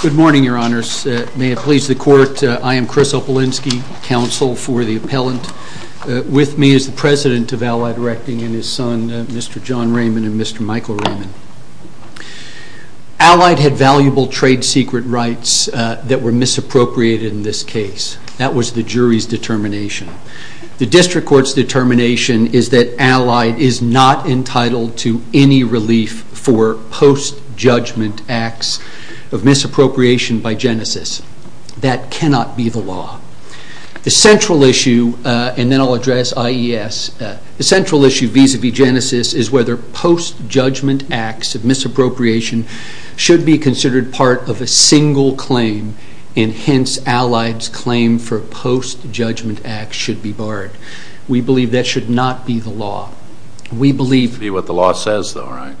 Good morning, Your Honors. May it please the Court, I am Chris Opelinski, counsel for the President of Allied Erecting and his son, Mr. John Raymond and Mr. Michael Raymond. Allied had valuable trade secret rights that were misappropriated in this case. That was the jury's determination. The District Court's determination is that Allied is not entitled to any relief for post-judgment acts of misappropriation by Genesis. That cannot be the law. The central issue vis-à-vis Genesis is whether post-judgment acts of misappropriation should be considered part of a single claim, and hence Allied's claim for post-judgment acts should be barred. We believe that should not be the law. We believe... It should be what the law says though, right?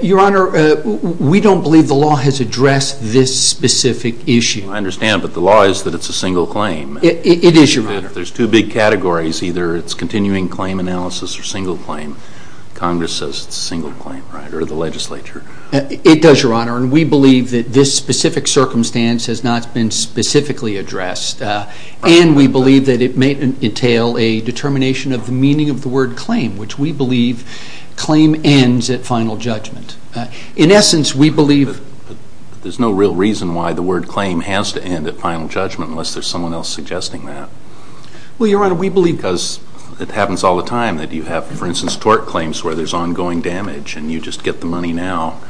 Your Honor, we don't believe the law has addressed this specific issue. I understand, but the law is that it's a single claim. It is, Your Honor. There's two big categories, either it's continuing claim analysis or single claim. Congress says it's a single claim, right, or the legislature. It does, Your Honor, and we believe that this specific circumstance has not been specifically addressed, and we believe that it may entail a determination of the meaning of the word claim, which we believe claim ends at final judgment. In essence, we believe... There's no real reason why the word claim has to end at final judgment unless there's someone else suggesting that. Well, Your Honor, we believe because it happens all the time that you have, for instance, tort claims where there's ongoing damage and you just get the money now.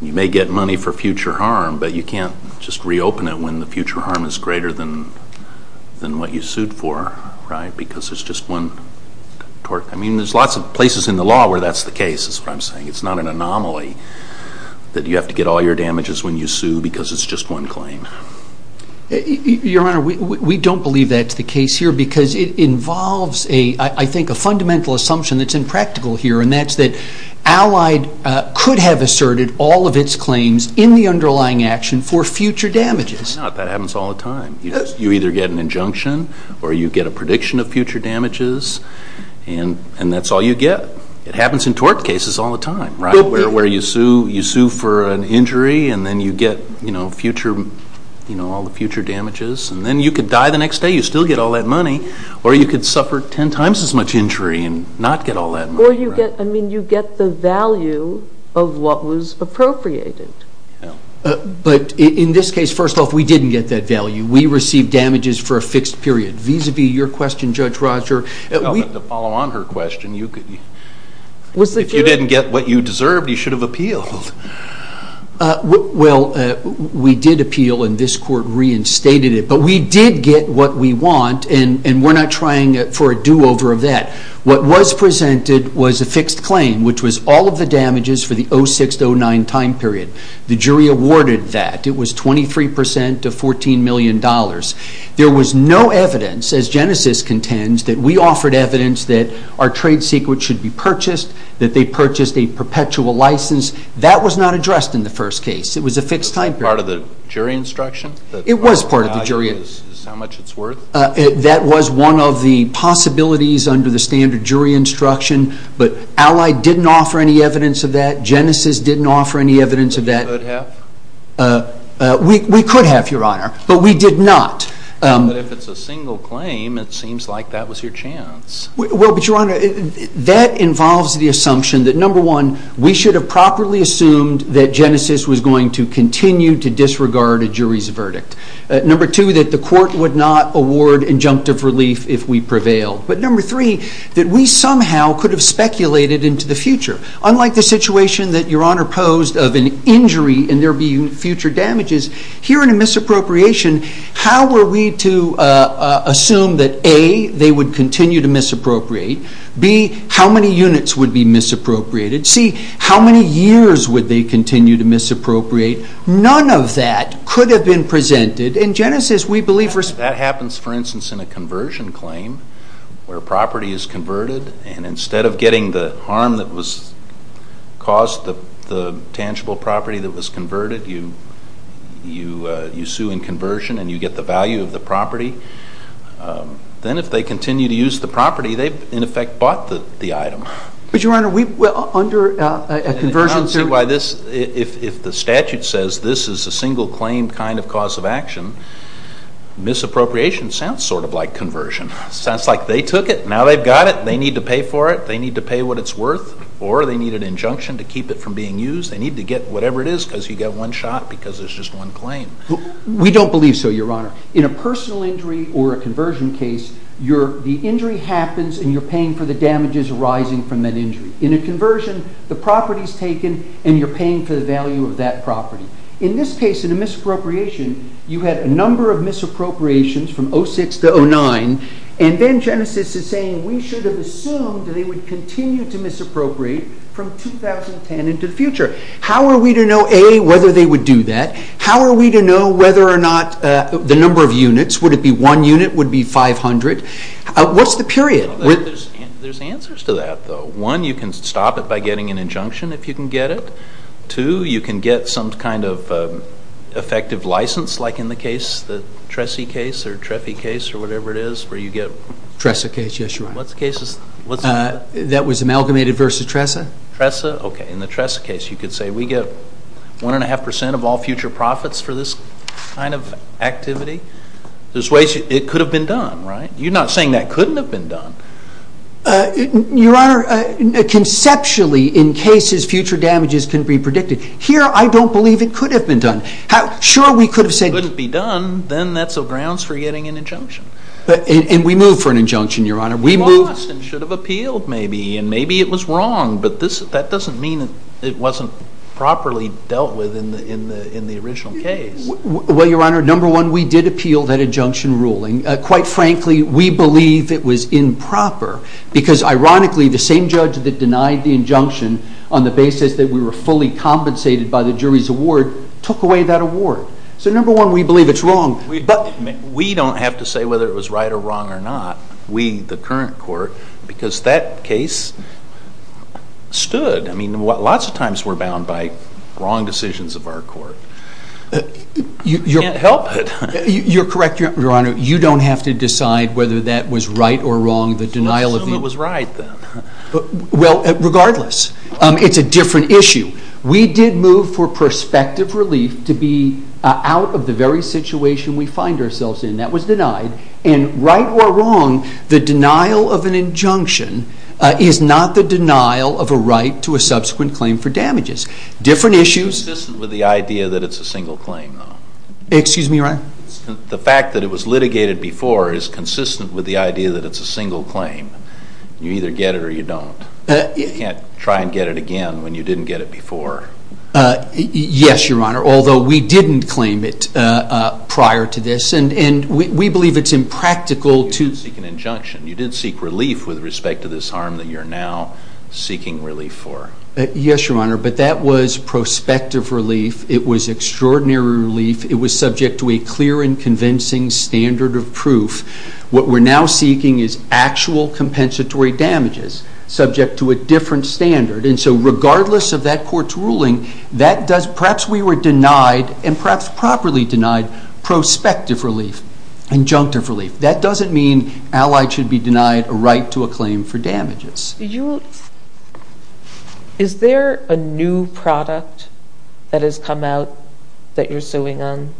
You may get money for future harm, but you can't just reopen it when the future harm is greater than what you sued for, right, because it's just one tort. I mean, there's lots of places in the law where that's the case, is what I'm saying. It's not an anomaly that you have to get all your damages when you sue because it's just one claim. Your Honor, we don't believe that's the case here because it involves, I think, a fundamental assumption that's impractical here, and that's that Allied could have asserted all of its claims in the underlying action for future damages. No, that happens all the time. You either get an injunction or you get a prediction of future damages, and that's all you get. It happens in tort cases all the time, right, where you sue for an injury and then you get, you know, future, you know, all the future damages, and then you could die the next day, you still get all that money, or you could suffer ten times as much injury and not get all that money. Or you get, I mean, you get the value of what was appropriated. But in this case, first off, we didn't get that value. We received damages for a fixed period. Vis-a-vis your question, Judge Roger, we... To follow on her question, you could... Was the... If you didn't get what you deserved, you did appeal, and this Court reinstated it. But we did get what we want, and we're not trying for a do-over of that. What was presented was a fixed claim, which was all of the damages for the 06-09 time period. The jury awarded that. It was 23% to $14 million. There was no evidence, as Genesis contends, that we offered evidence that our trade secret should be purchased, that they purchased a perpetual license. That was not addressed in the first case. It was a fixed time period. Part of the jury instruction? It was part of the jury... Is how much it's worth? That was one of the possibilities under the standard jury instruction. But Allied didn't offer any evidence of that. Genesis didn't offer any evidence of that. Could have? We could have, Your Honor, but we did not. But if it's a single claim, it seems like that was your chance. Well, but Your Honor, that involves the assumption that, number one, we should have properly assumed that Genesis was going to continue to disregard a jury's verdict. Number two, that the court would not award injunctive relief if we prevailed. But number three, that we somehow could have speculated into the future. Unlike the situation that Your Honor posed of an injury and there being future damages, here in a misappropriation, how were we to assume that, A, they would continue to misappropriate, B, how many units would be misappropriated, C, how many years would they continue to misappropriate? None of that could have been presented. In Genesis, we believe... That happens, for instance, in a conversion claim where property is converted and instead of getting the harm that was caused, the tangible property that was converted, you sue in conversion and you get the value of the property. Then if they continue to use the property, they've in effect bought the item. But Your Honor, under a conversion... I don't see why this, if the statute says this is a single claim kind of cause of action, misappropriation sounds sort of like conversion. It sounds like they took it, now they've got it, they need to pay for it, they need to pay what it's worth, or they need an injunction to keep it from being used, they need to get whatever it is because you get one shot because there's just one claim. We don't believe so, Your Honor. In a personal injury or a conversion case, the injury happens and you're paying for the damages arising from that injury. In a conversion, the property is taken and you're paying for the value of that property. In this case, in a misappropriation, you had a number of misappropriations from 06 to 09, and then Genesis is saying we should have assumed they would continue to misappropriate from 2010 into the future. How are we to know, A, whether they would do that? How are we to know whether or not the number of units, would it be one unit, would it be 500? What's the period? There's answers to that, though. One, you can stop it by getting an injunction if you can get it. Two, you can get some kind of effective license, like in the case, the Tressy case or Treffy case or whatever it is, where you get- Tressa case, yes, Your Honor. That was amalgamated versus Tressa? Tressa, okay. In the Tressa case, you could say we get one and a half percent of all future profits for this kind of activity. There's ways it could have been done, right? You're not saying that couldn't have been done. Your Honor, conceptually, in cases, future damages can be predicted. Here, I don't believe it could have been done. Sure, we could have said- It couldn't be done. Then that's a grounds for getting an injunction. We move for an injunction, Your Honor. We move- We lost and should have appealed maybe, and maybe it was wrong, but that doesn't mean it wasn't properly dealt with in the original case. Well, Your Honor, number one, we did appeal that injunction ruling. Quite frankly, we believe it was improper because, ironically, the same judge that denied the injunction on the basis that we were fully compensated by the jury's award took away that award. So, number one, we believe it's wrong, but- We don't have to say whether it was right or wrong or not, we, the current court, because that case stood. I mean, lots of times we're bound by wrong decisions of our court. We can't help it. You're correct, Your Honor. You don't have to decide whether that was right or wrong, the denial of the- Let's assume it was right, then. Well, regardless, it's a different issue. We did move for prospective relief to be out of the very situation we find ourselves in. That was denied, and right or wrong, the denial of an injunction is not the denial of a right to a subsequent claim for damages. Different issues- It's consistent with the idea that it's a single claim, though. Excuse me, Your Honor? The fact that it was litigated before is consistent with the idea that it's a single claim. You either get it or you don't. You can't try and get it again when you didn't get it before. Yes, Your Honor, although we didn't claim it prior to this, and we believe it's impractical to- You didn't seek protection. You didn't seek relief with respect to this harm that you're now seeking relief for. Yes, Your Honor, but that was prospective relief. It was extraordinary relief. It was subject to a clear and convincing standard of proof. What we're now seeking is actual compensatory damages subject to a different standard. And so regardless of that court's ruling, that does- perhaps we were denied, and perhaps properly denied, prospective relief, and junctive relief. That doesn't mean allies should be denied a right to a claim for damages. Is there a new product that has come out that you're suing on?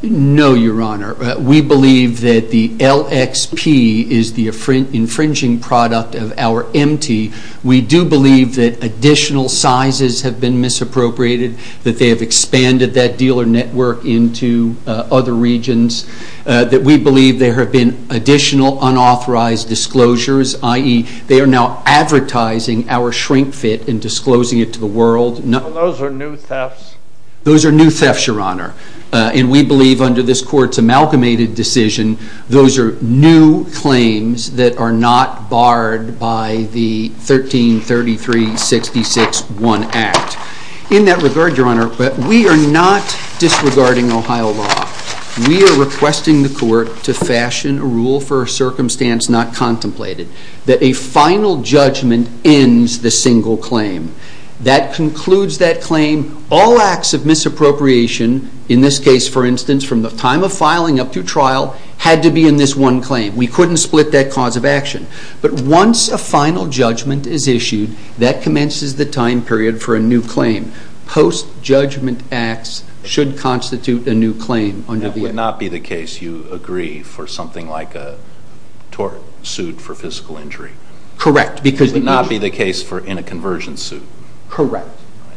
No, Your Honor. We believe that the LXP is the infringing product of our MT. We do believe that additional sizes have been misappropriated, that they have expanded that dealer network into other regions, that we believe there have been additional unauthorized disclosures, i.e., they are now advertising our shrink fit and disclosing it to the world. So those are new thefts? Those are new thefts, Your Honor. And we believe under this court's amalgamated decision, those are new claims that are not barred by the 1333-66-1 Act. In that regard, Your Honor, we are not disregarding Ohio law. We are requesting the court to fashion a rule for a circumstance not contemplated, that a final judgment ends the single claim. That concludes that claim. All acts of misappropriation, in this case, for instance, from the time of filing up to trial, had to be in this one claim. We couldn't split that cause of action. But once a final judgment is issued, that commences the time period for a new claim. Post-judgment acts should constitute a new claim. That would not be the case, you agree, for something like a tort suit for physical injury? Correct. It would not be the case in a conversion suit? Correct.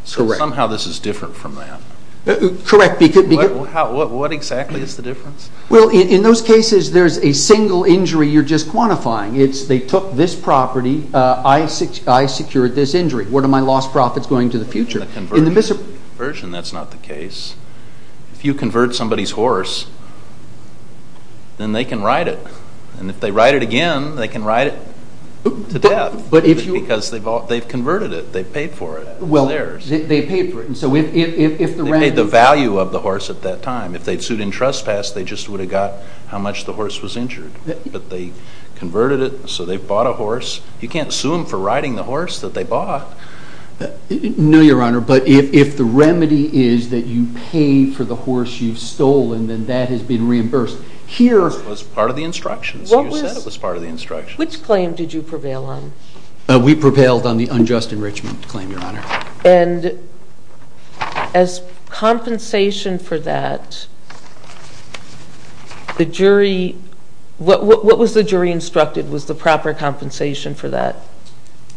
So somehow this is different from that? Correct. What exactly is the difference? Well, in those cases, there's a single injury you're just quantifying. It's they took this property, I secured this injury. Where are my lost profits going to the future? In a conversion, that's not the case. If you convert somebody's horse, then they can ride it. And if they ride it again, they can ride it to death. Because they've converted it. They've paid for it. It's theirs. They've paid for it. They've paid the value of the horse at that time. If they've sued in trespass, they've just would have got how much the horse was injured. But they converted it, so they've bought a horse. You can't sue them for riding the horse that they bought. No, Your Honor. But if the remedy is that you pay for the horse you've stolen, then that has been reimbursed. Here- It was part of the instructions. You said it was part of the instructions. Which claim did you prevail on? We prevailed on the unjust enrichment claim, Your Honor. And as compensation for that, the jury, what was the jury instructed? Was the proper compensation for that?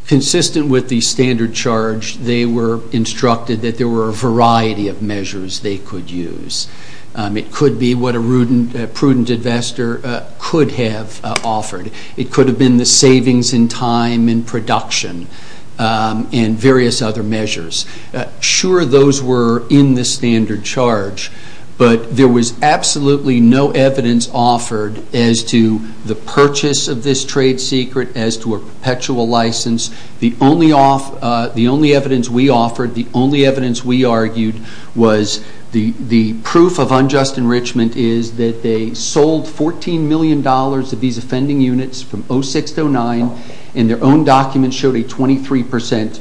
Consistent with the standard charge, they were instructed that there were a variety of measures they could use. It could be what a prudent investor could have offered. It could have been the savings in time and production and various other measures. Sure, those were in the standard charge, but there was absolutely no evidence offered as to the purchase of this trade secret, as to a perpetual license. The only evidence we offered, the only evidence we argued was the proof of unjust enrichment is that they sold $14 million of these offending units from 2006 to 2009, and their own documents showed a 23 percent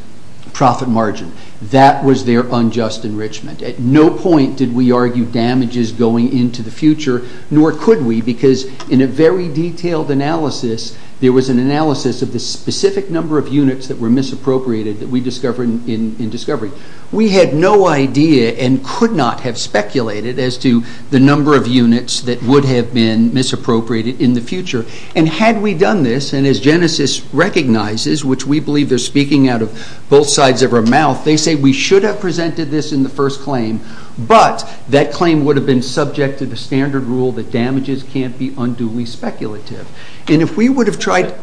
profit margin. That was their unjust enrichment. At no point did we argue damages going into the future, nor could we, because in a very detailed analysis, there was an analysis of the specific number of units that were misappropriated that we discovered in discovery. We had no idea and could not have speculated as to the number of units that would have been misappropriated in the future. Had we done this, and as Genesys recognizes, which we believe they're speaking out of both sides of our mouth, they say we should have presented this in the first claim, but that claim would have been subject to the standard rule that damages can't be unduly speculative. And if we would have tried...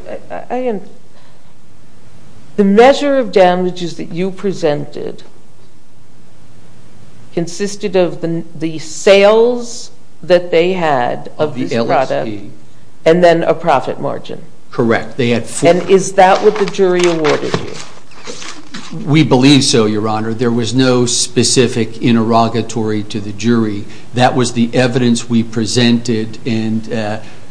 The measure of damages that you presented consisted of the sales that they had of the product, and then a profit margin. Correct. They had four... And is that what the jury awarded you? We believe so, Your Honor. There was no specific interrogatory to the jury. That was the evidence we presented, and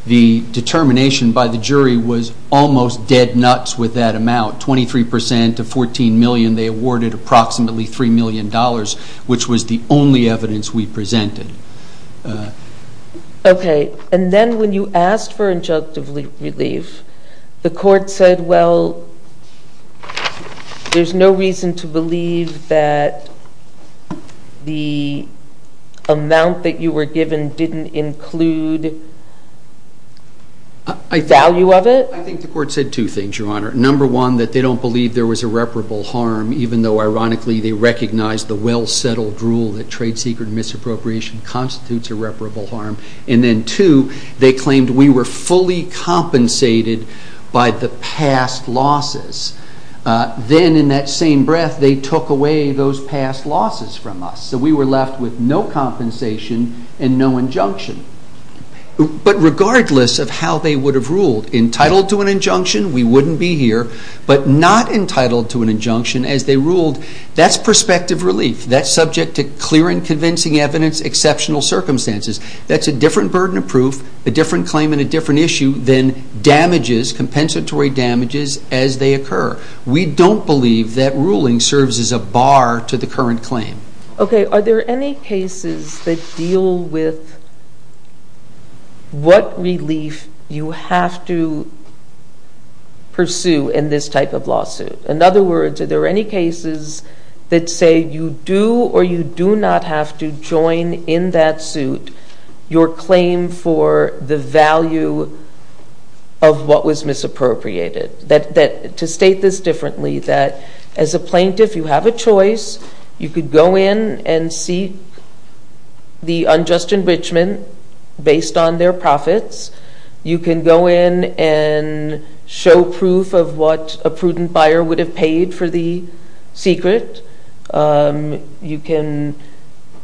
the determination by the jury was almost dead nuts with that amount. Twenty-three percent of $14 million they awarded approximately $3 million, which was the only evidence we presented. Okay. And then when you asked for injunctive relief, the court said, well, there's no reason to believe that the amount that you were given didn't include value of it? I think the court said two things, Your Honor. Number one, that they don't believe there was irreparable harm, even though, ironically, they recognize the well-settled rule that constitutes irreparable harm. And then two, they claimed we were fully compensated by the past losses. Then, in that same breath, they took away those past losses from us. So we were left with no compensation and no injunction. But regardless of how they would have ruled, entitled to an injunction, we wouldn't be here. But not entitled to an injunction, as they ruled, that's prospective relief. That's clear and convincing evidence, exceptional circumstances. That's a different burden of proof, a different claim, and a different issue than damages, compensatory damages, as they occur. We don't believe that ruling serves as a bar to the current claim. Okay. Are there any cases that deal with what relief you have to pursue in this type of case? I do not have to join in that suit your claim for the value of what was misappropriated. To state this differently, that as a plaintiff, you have a choice. You could go in and seek the unjust enrichment based on their profits. You can go in and show proof of what a prudent buyer would have paid for the secret. You can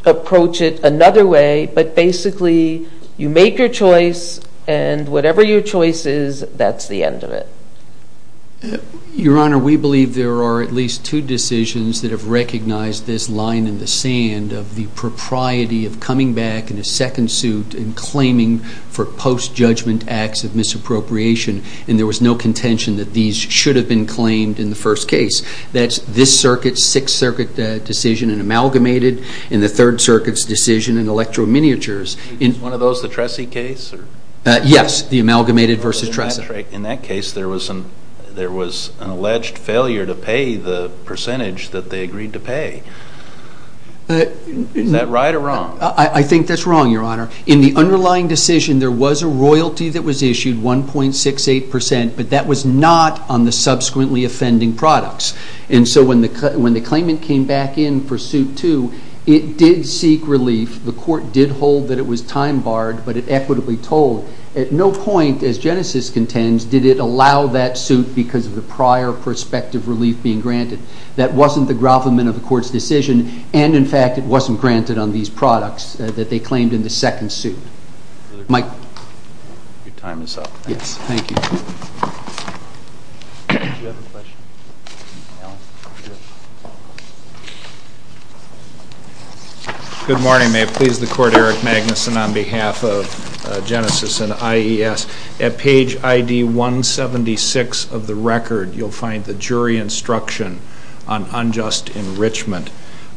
approach it another way. But basically, you make your choice, and whatever your choice is, that's the end of it. Your Honor, we believe there are at least two decisions that have recognized this line in the sand of the propriety of coming back in a second suit and claiming for post-judgment acts of misappropriation, and there was no contention that these should have been claimed in the first case. That's this circuit's Sixth Circuit decision in Amalgamated, and the Third Circuit's decision in Electro-Miniatures. Is one of those the Tressy case? Yes, the Amalgamated v. Tressy. In that case, there was an alleged failure to pay the percentage that they agreed to pay. Is that right or wrong? I think that's wrong, Your Honor. In the underlying decision, there was a royalty that was issued, 1.68 percent, but that was not on the subsequently offending products. And so when the claimant came back in for suit two, it did seek relief. The court did hold that it was time barred, but it equitably told. At no point, as Genesis contends, did it allow that suit because of the prior prospective relief being granted. That wasn't the grovelment of the court's decision, and in fact, it wasn't granted on these products that they claimed in the second suit. Your time is up. Yes, thank you. Do you have a question? No. Good morning, may it please the Court. Eric Magnuson on behalf of Genesis and IES. At page ID 176 of the record, you'll find the jury instruction on unjust enrichment.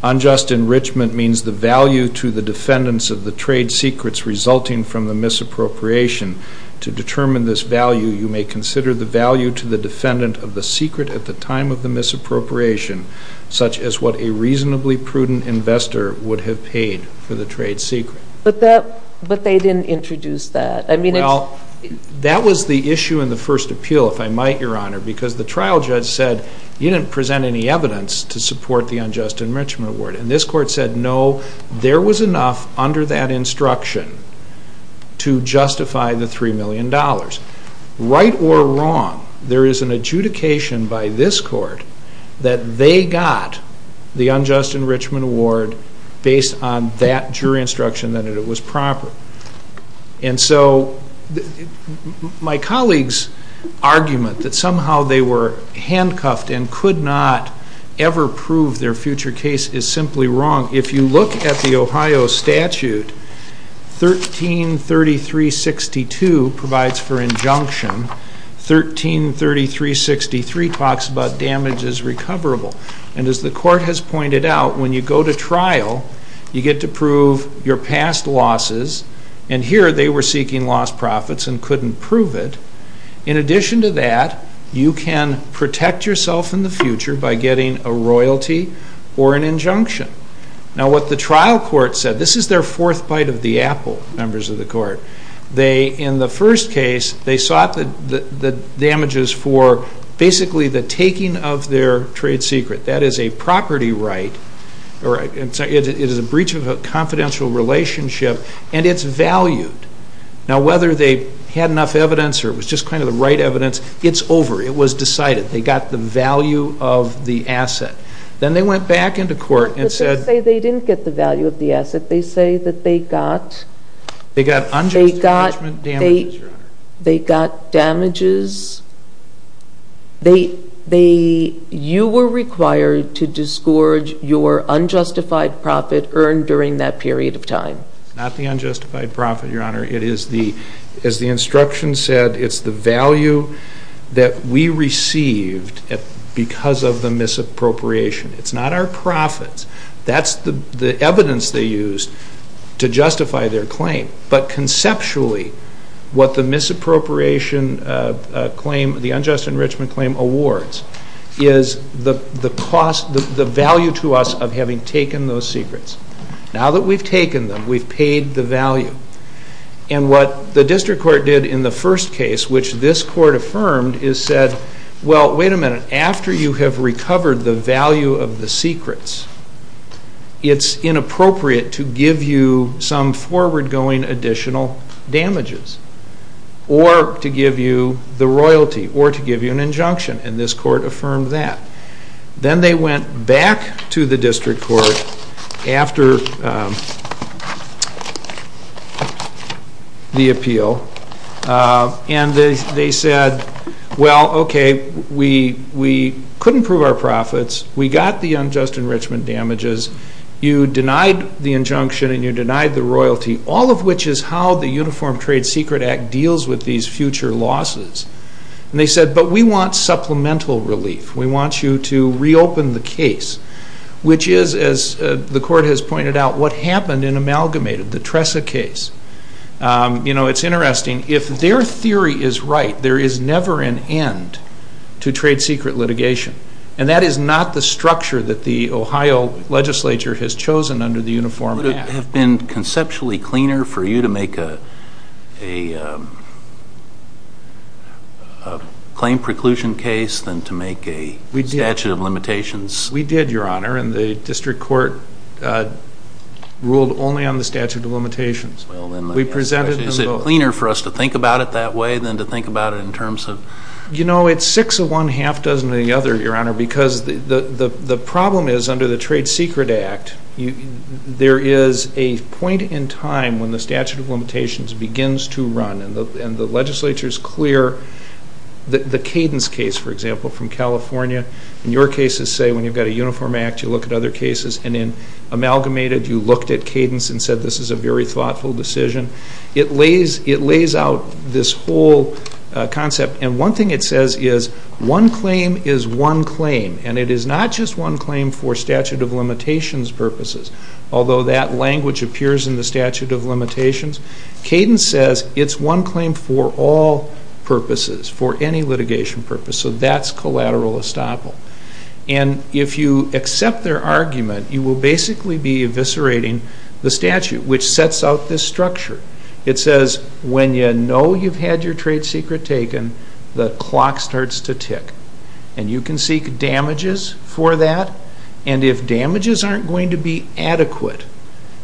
Unjust enrichment means the value to the defendants of the trade secrets resulting from the misappropriation. To determine this value, you may consider the value to the defendant of the secret at the time of the misappropriation, such as what a reasonably prudent investor would have paid for the trade secret. But they didn't introduce that. Well, that was the issue in the first appeal, if I might, Your Honor, because the trial judge said you didn't present any evidence to support the unjust enrichment award. And this court said no, there was enough under that instruction to justify the $3 million. Right or wrong, there is an adjudication by this court that they got the unjust enrichment award based on that jury instruction that it was proper. And so my colleague's argument that somehow they were handcuffed and could not ever prove their future case is simply wrong. If you look at the Ohio statute, 133362 provides for injunction. 133363 talks about damage as recoverable. And as the court has pointed out, when you go to trial, you get to prove your past losses. And here they were seeking lost profits and couldn't prove it. In addition to that, you can protect yourself in the future by getting a royalty or an injunction. Now what the trial court said, this is their fourth bite of the apple, members of the court. In the first case, they sought the damages for basically the taking of their trade secret. That is a property right. It is a breach of a confidential relationship and it's valued. Now whether they had enough evidence or it was just kind of the right evidence, it's over. It was decided. They got the value of the asset. Then they went back into court and said... But they say they didn't get the value of the asset. They say that they got... They got unjust enrichment damages, Your Honor. They got damages. You were required to disgorge your unjustified profit earned during that period of time. It's not the unjustified profit, Your Honor. It is the, as the instruction said, it's the value that we received because of the misappropriation. It's not our profits. That's the evidence they used to justify their claim. But conceptually, what the misappropriation claim, the unjust enrichment claim awards is the cost, the value to us of having taken those secrets. Now that we've taken them, we've paid the value. And what the district court did in the first case, which this court affirmed, is said, well, wait a minute. After you have you some forward going additional damages, or to give you the royalty, or to give you an injunction. And this court affirmed that. Then they went back to the district court after the appeal and they said, well, okay, we couldn't prove our profits. We got the unjust enrichment damages. You denied the injunction and you denied the royalty, all of which is how the Uniform Trade Secret Act deals with these future losses. And they said, but we want supplemental relief. We want you to reopen the case, which is, as the court has pointed out, what happened in Amalgamated, the Tressa case. You know, it's interesting. If their theory is right, there is never an end to trade secret litigation. And that is not the structure that the Ohio legislature has chosen under the Uniform Act. Would it have been conceptually cleaner for you to make a claim preclusion case than to make a statute of limitations? We did, Your Honor. And the district court ruled only on the statute of limitations. We presented them both. Is it cleaner for us to think about it that way than to think about it in terms of... You know, it's six of one, half dozen of the other, Your Honor, because the problem is under the Trade Secret Act, there is a point in time when the statute of limitations begins to run. And the legislature is clear. The Cadence case, for example, from California, in your cases, say, when you've got a Uniform Act, you look at other cases. And in Amalgamated, you looked at Cadence and said, this is a very thoughtful decision. It lays out this whole concept. And one thing it says is, one claim is one claim. And it is not just one claim for statute of limitations purposes, although that language appears in the statute of limitations. Cadence says it's one claim for all purposes, for any litigation purpose. So that's collateral estoppel. And if you accept their argument, you will basically be eviscerating the statute, which sets out this structure. It says, when you know you've had your trade secret taken, the clock starts to tick. And you can seek damages for that. And if damages aren't going to be adequate,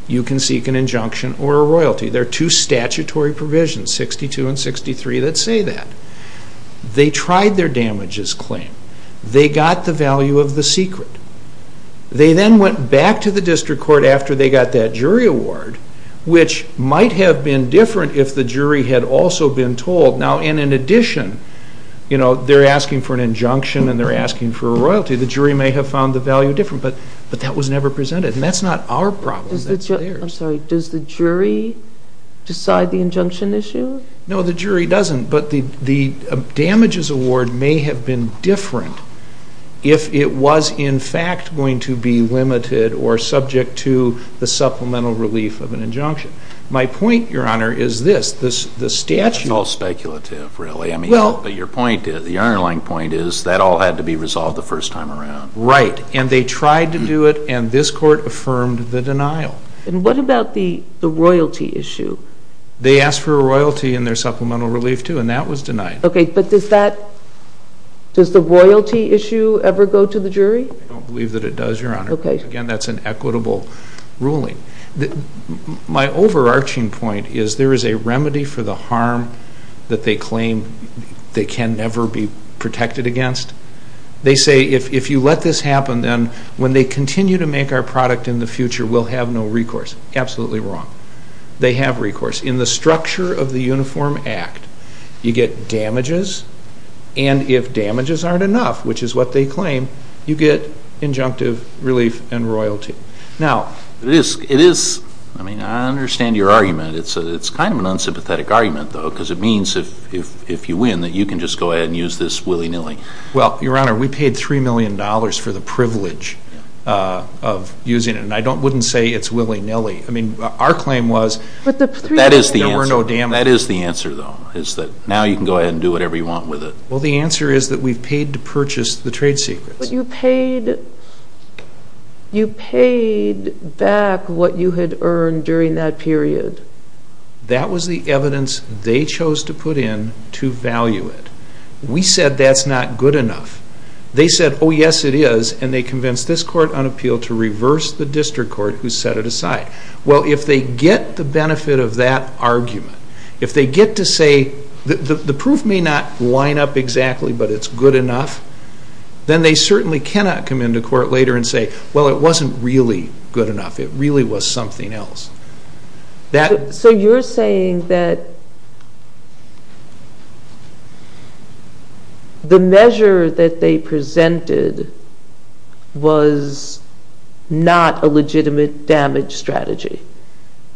you can seek an injunction or a royalty. There are two statutory provisions, 62 and 63, that say that. They tried their damages claim. They got the value of the secret. They then went back to the district court after they got that jury award, which might have been different if the jury had also been told. Now, in addition, they're asking for an injunction, and they're asking for a royalty. The jury may have found the value different. But that was never presented. And that's not our problem, that's theirs. I'm sorry, does the jury decide the injunction issue? No, the jury doesn't. But the damages award may have been different if it was, in fact, going to be limited or subject to the supplemental relief of an injunction. My point, Your Honor, is this. The statute. It's all speculative, really. I mean, but your point is, the underlying point is that all had to be resolved the first time around. Right. And they tried to do it, and this court affirmed the denial. And what about the royalty issue? They asked for a royalty in their supplemental relief, too. And that was denied. OK, but does that, does the royalty issue ever go to the jury? I don't believe that it does, Your Honor. OK. Again, that's an equitable ruling. My overarching point is, there is a remedy for the harm that they claim they can never be protected against. They say, if you let this happen, then when they continue to make our product in the future, we'll have no recourse. Absolutely wrong. They have recourse. In the structure of the Uniform Act, you get damages. And if damages aren't enough, which is what they claim, you get injunctive relief and royalty. Now, it is, I mean, I understand your argument. It's kind of an unsympathetic argument, though, because it means if you win, that you can just go ahead and use this willy-nilly. Well, Your Honor, we paid $3 million for the privilege of using it. And I wouldn't say it's willy-nilly. I mean, our claim was, that is, it That is the answer, though, is that now you can go ahead and do whatever you want with it. Well, the answer is that we've paid to purchase the trade secrets. But you paid back what you had earned during that period. That was the evidence they chose to put in to value it. We said that's not good enough. They said, oh, yes, it is. And they convinced this court on appeal to reverse the district court, who set it aside. Well, if they get the benefit of that argument, if they get to say the proof may not line up exactly, but it's good enough, then they certainly cannot come into court later and say, well, it wasn't really good enough. It really was something else. So you're saying that the measure that they presented was not a legitimate damage strategy?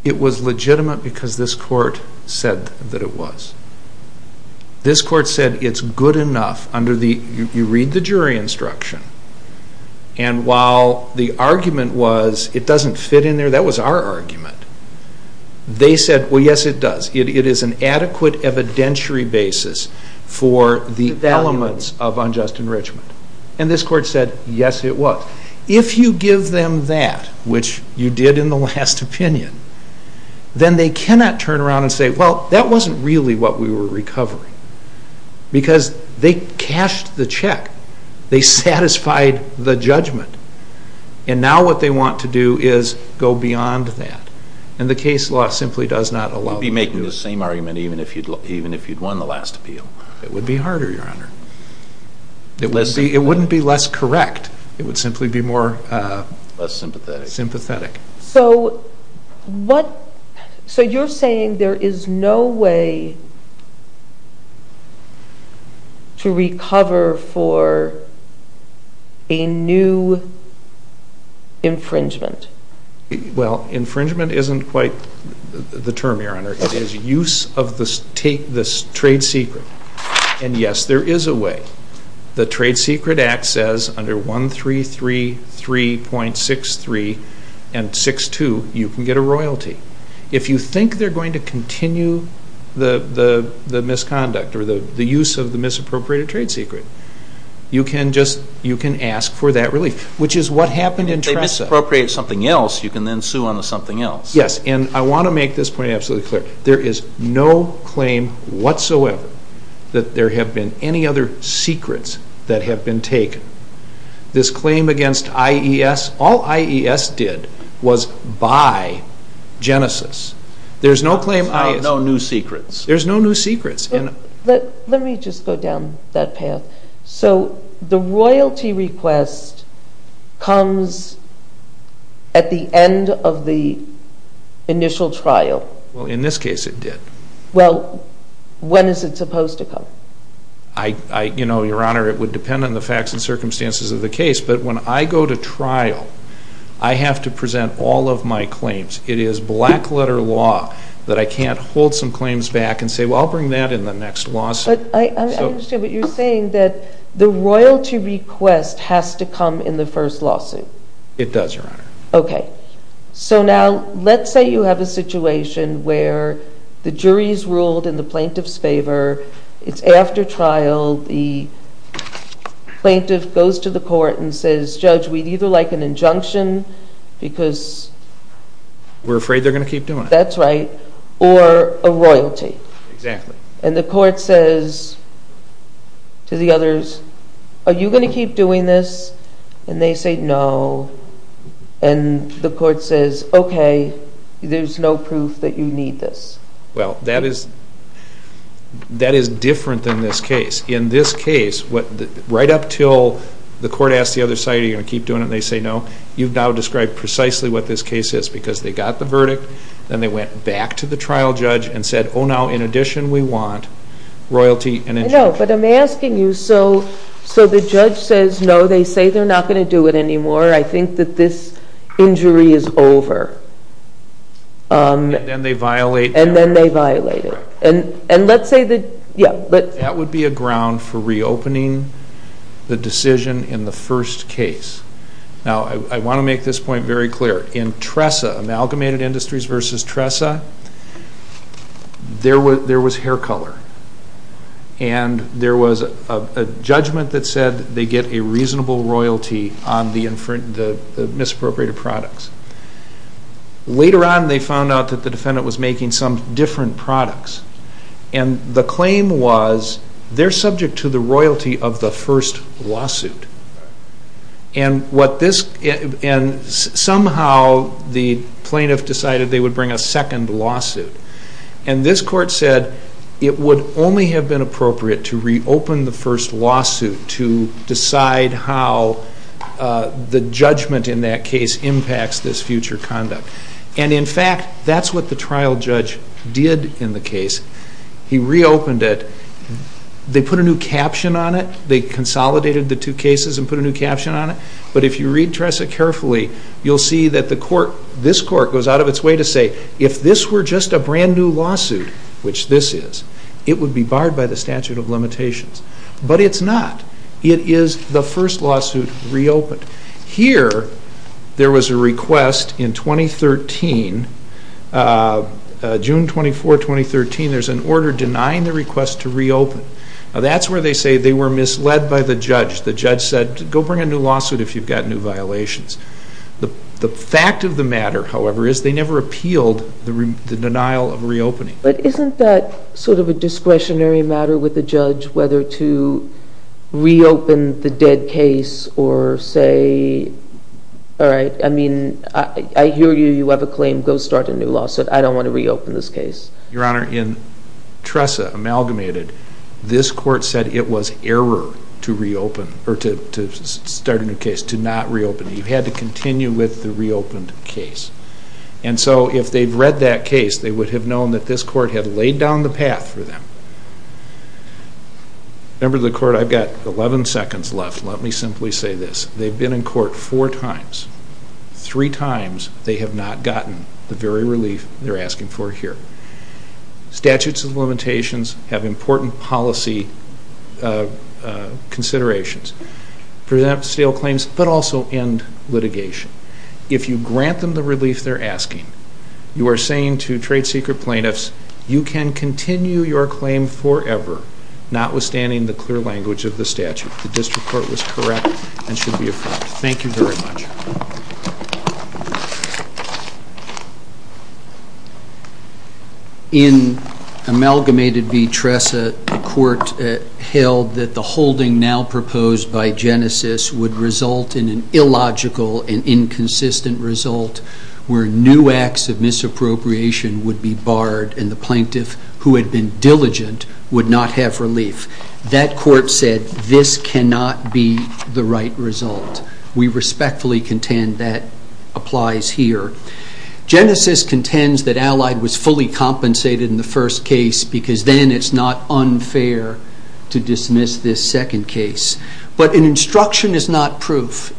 It was legitimate because this court said that it was. This court said it's good enough under the, you read the jury instruction. And while the argument was it doesn't fit in there, that was our argument. They said, well, yes, it does. It is an adequate evidentiary basis for the elements of unjust enrichment. And this court said, yes, it was. If you give them that, which you did in the last opinion, then they cannot turn around and say, well, that wasn't really what we were recovering. Because they cashed the check. They satisfied the judgment. And now what they want to do is go beyond that. And the case law simply does not allow that. You'd be making the same argument even if you'd won the last appeal. It would be harder, Your Honor. It wouldn't be less correct. It would simply be more sympathetic. So you're saying there is no way to recover for a new infringement? Well, infringement isn't quite the term, Your Honor. It is use of this trade secret. And yes, there is a way. The Trade Secret Act says under 1333.63 and 62, you can get a royalty. If you think they're going to continue the misconduct or the use of the misappropriated trade secret, you can ask for that relief, which is what happened in Tresa. If they misappropriated something else, you can then sue on the something else. Yes, and I want to make this point absolutely clear. There is no claim whatsoever that there have been any other secrets that have been taken. This claim against IES, all IES did was buy Genesis. There's no claim IES... So no new secrets? There's no new secrets. Let me just go down that path. So the royalty request comes at the end of the initial trial? Well, in this case, it did. Well, when is it supposed to come? I, you know, Your Honor, it would depend on the facts and circumstances of the case. But when I go to trial, I have to present all of my claims. It is black letter law that I can't hold some claims back and say, well, I'll bring that in the next lawsuit. But I understand what you're saying, that the royalty request has to come in the first lawsuit. It does, Your Honor. OK. So now, let's say you have a situation where the jury's ruled in the plaintiff's favor. It's after trial. The plaintiff goes to the court and says, Judge, we'd either like an injunction because... We're afraid they're going to keep doing it. That's right. Or a royalty. Exactly. And the court says to the others, are you going to keep doing this? And they say no. And the court says, OK, there's no proof that you need this. Well, that is different than this case. In this case, right up till the court asked the other side, are you going to keep doing it, and they say no, you've now described precisely what this case is. Because they got the verdict, then they went back to the trial judge and said, oh, now, in addition, we want royalty and injunction. I know, but I'm asking you, so the judge says no. They say they're not going to do it anymore. I think that this injury is over. And then they violate them. And then they violate it. And let's say that, yeah. That would be a ground for reopening the decision in the first case. Now, I want to make this point very clear. In Tressa, Amalgamated Industries versus Tressa, there was hair color. And there was a judgment that said they get a reasonable royalty on the misappropriated products. Later on, they found out that the defendant was making some different products. And the claim was, they're subject to the royalty of the first lawsuit. And somehow, the plaintiff decided they would bring a second lawsuit. And this court said, it would only have been appropriate to reopen the first lawsuit to decide how the judgment in that case impacts this future conduct. And in fact, that's what the trial judge did in the case. He reopened it. They put a new caption on it. They consolidated the two cases and put a new caption on it. But if you read Tressa carefully, you'll see that this court goes out of its way to say, if this were just a brand new lawsuit, which this is, it would be barred by the statute of limitations. But it's not. It is the first lawsuit reopened. Here, there was a request in 2013, June 24, 2013. There's an order denying the request to reopen. That's where they say they were misled by the judge. The judge said, go bring a new lawsuit if you've got new violations. The fact of the matter, however, is they never appealed the denial of reopening. But isn't that sort of a discretionary matter with the judge, whether to reopen the dead case or say, all right, I mean, I hear you. You have a claim. Go start a new lawsuit. I don't want to reopen this case. Your Honor, in Tressa, Amalgamated, this court said it was error to reopen or to start a new case, to not reopen. You had to continue with the reopened case. And so if they've read that case, they would have known that this court had laid down the path for them. Member of the court, I've got 11 seconds left. Let me simply say this. They've been in court four times, three times they have not gotten the very relief they're asking for here. Statutes of limitations have important policy considerations for them to seal claims, but also end litigation. If you grant them the relief they're asking, you are saying to trade secret plaintiffs, you can continue your claim forever, notwithstanding the clear language of the statute. The district court was correct and should be approved. Thank you very much. In Amalgamated v. Tressa, the court held that the holding now proposed by Genesis would result in an illogical and inconsistent result where new acts of misappropriation would be barred and the plaintiff who had been diligent would not have relief. That court said this cannot be the right result. We respectfully contend that applies here. Genesis contends that Allied was fully compensated in the first case because then it's not unfair to dismiss this second case. But an instruction is not proof.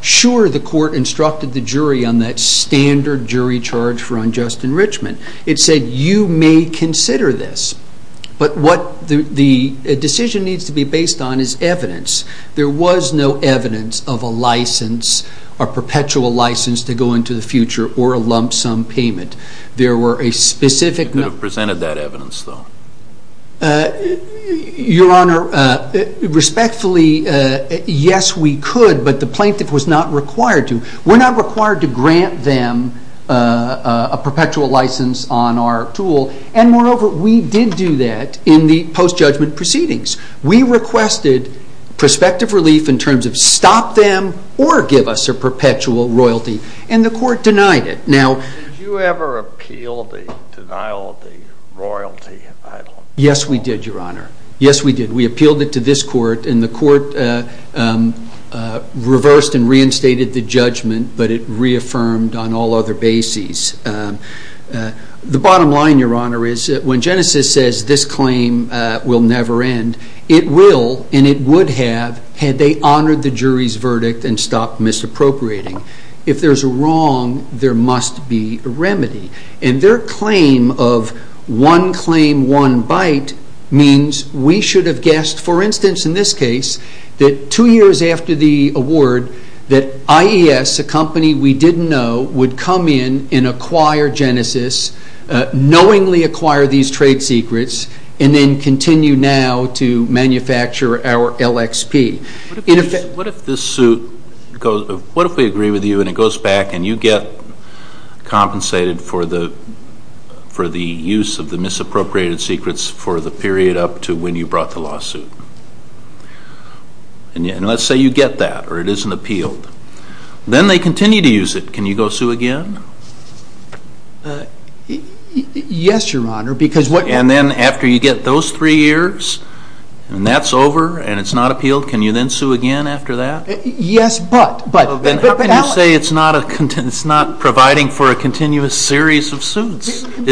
Sure, the court instructed the jury on that standard jury charge for unjust enrichment. It said, you may consider this, but what the decision needs to be based on is evidence. There was no evidence of a license, a perpetual license to go into the future or a lump sum payment. There were a specific- You could have presented that evidence, though. Your Honor, respectfully, yes, we could, but the plaintiff was not required to. We're not required to grant them a perpetual license on our tool. And moreover, we did do that in the post-judgment proceedings. We requested prospective relief in terms of stop them or give us a perpetual royalty, and the court denied it. Now- Did you ever appeal the denial of the royalty? Yes, we did, Your Honor. Yes, we did. We appealed it to this court and the court reversed and reinstated the judgment, but it reaffirmed on all other bases. The bottom line, Your Honor, is that when Genesis says this claim will never end, it will, and it would have, had they honored the jury's verdict and stopped misappropriating. If there's a wrong, there must be a remedy. And their claim of one claim, one bite, means we should have guessed, for instance, in this case, that two years after the award, that IES, a company we didn't know, would come in and acquire Genesis, knowingly acquire these trade secrets, and then continue now to manufacture our LXP. In effect- What if this suit goes, what if we agree with you and it goes back and you get compensated for the use of the misappropriated secrets for the period up to when you brought the lawsuit? And let's say you get that, or it isn't appealed. Then they continue to use it. Can you go sue again? Yes, Your Honor, because what- And then after you get those three years, and that's over, and it's not appealed, can you then sue again after that? Yes, but- But how can you say it's not providing It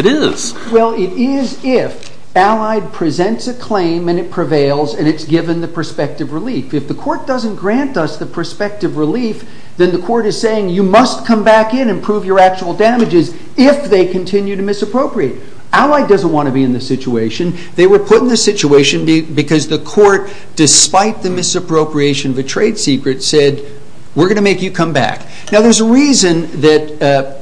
is. Well, it is if Allied presents a claim, and it prevails, and it's given the prospective relief. If the court doesn't grant us the prospective relief, then the court is saying you must come back in and prove your actual damages if they continue to misappropriate. Allied doesn't want to be in this situation. They were put in this situation because the court, despite the misappropriation of a trade secret, said, we're going to make you come back. Now, there's a reason that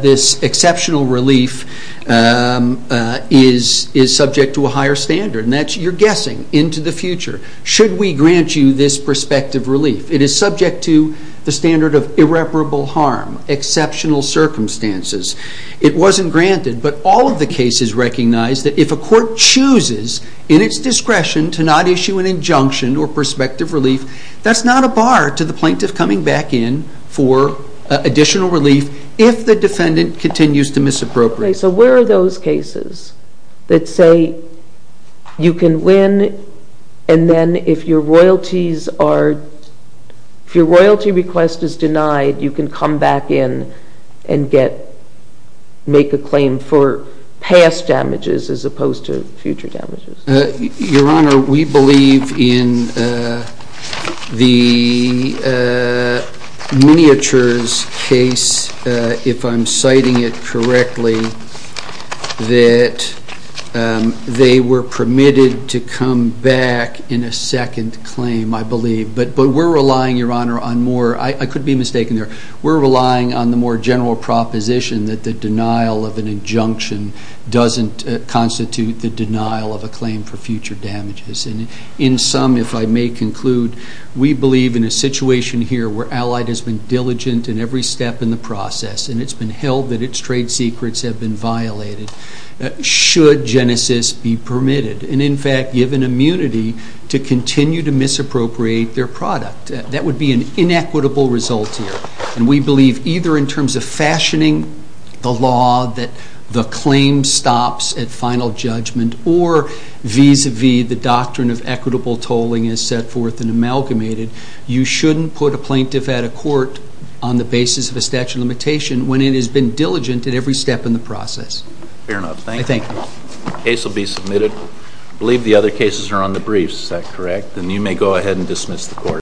this exceptional relief is subject to a higher standard, and that's, you're guessing, into the future. Should we grant you this prospective relief? It is subject to the standard of irreparable harm, exceptional circumstances. It wasn't granted, but all of the cases recognize that if a court chooses, in its discretion, to not issue an injunction or prospective relief, that's not a bar to the plaintiff coming back in for additional relief if the defendant continues to misappropriate. Okay, so where are those cases that say you can win, and then if your royalties are, if your royalty request is denied, you can come back in and get, make a claim for past damages as opposed to future damages? Your Honor, we believe in the miniatures case, if I'm citing it correctly, that they were permitted to come back in a second claim, I believe, but we're relying, Your Honor, on more, I could be mistaken there, we're relying on the more general proposition that the denial of an injunction doesn't constitute the denial of a claim for future damages, and in some, if I may conclude, we believe in a situation here where Allied has been diligent in every step in the process, and it's been held that its trade secrets have been violated, should Genesis be permitted, and in fact given immunity to continue to misappropriate their product. That would be an inequitable result here, and we believe either in terms of fashioning the law that the claim stops at final judgment or vis-a-vis the doctrine of equitable tolling is set forth and amalgamated, you shouldn't put a plaintiff at a court on the basis of a statute of limitation when it has been diligent in every step in the process. Fair enough. Thank you. Case will be submitted. I believe the other cases are on the briefs, is that correct? Then you may go ahead and dismiss the court.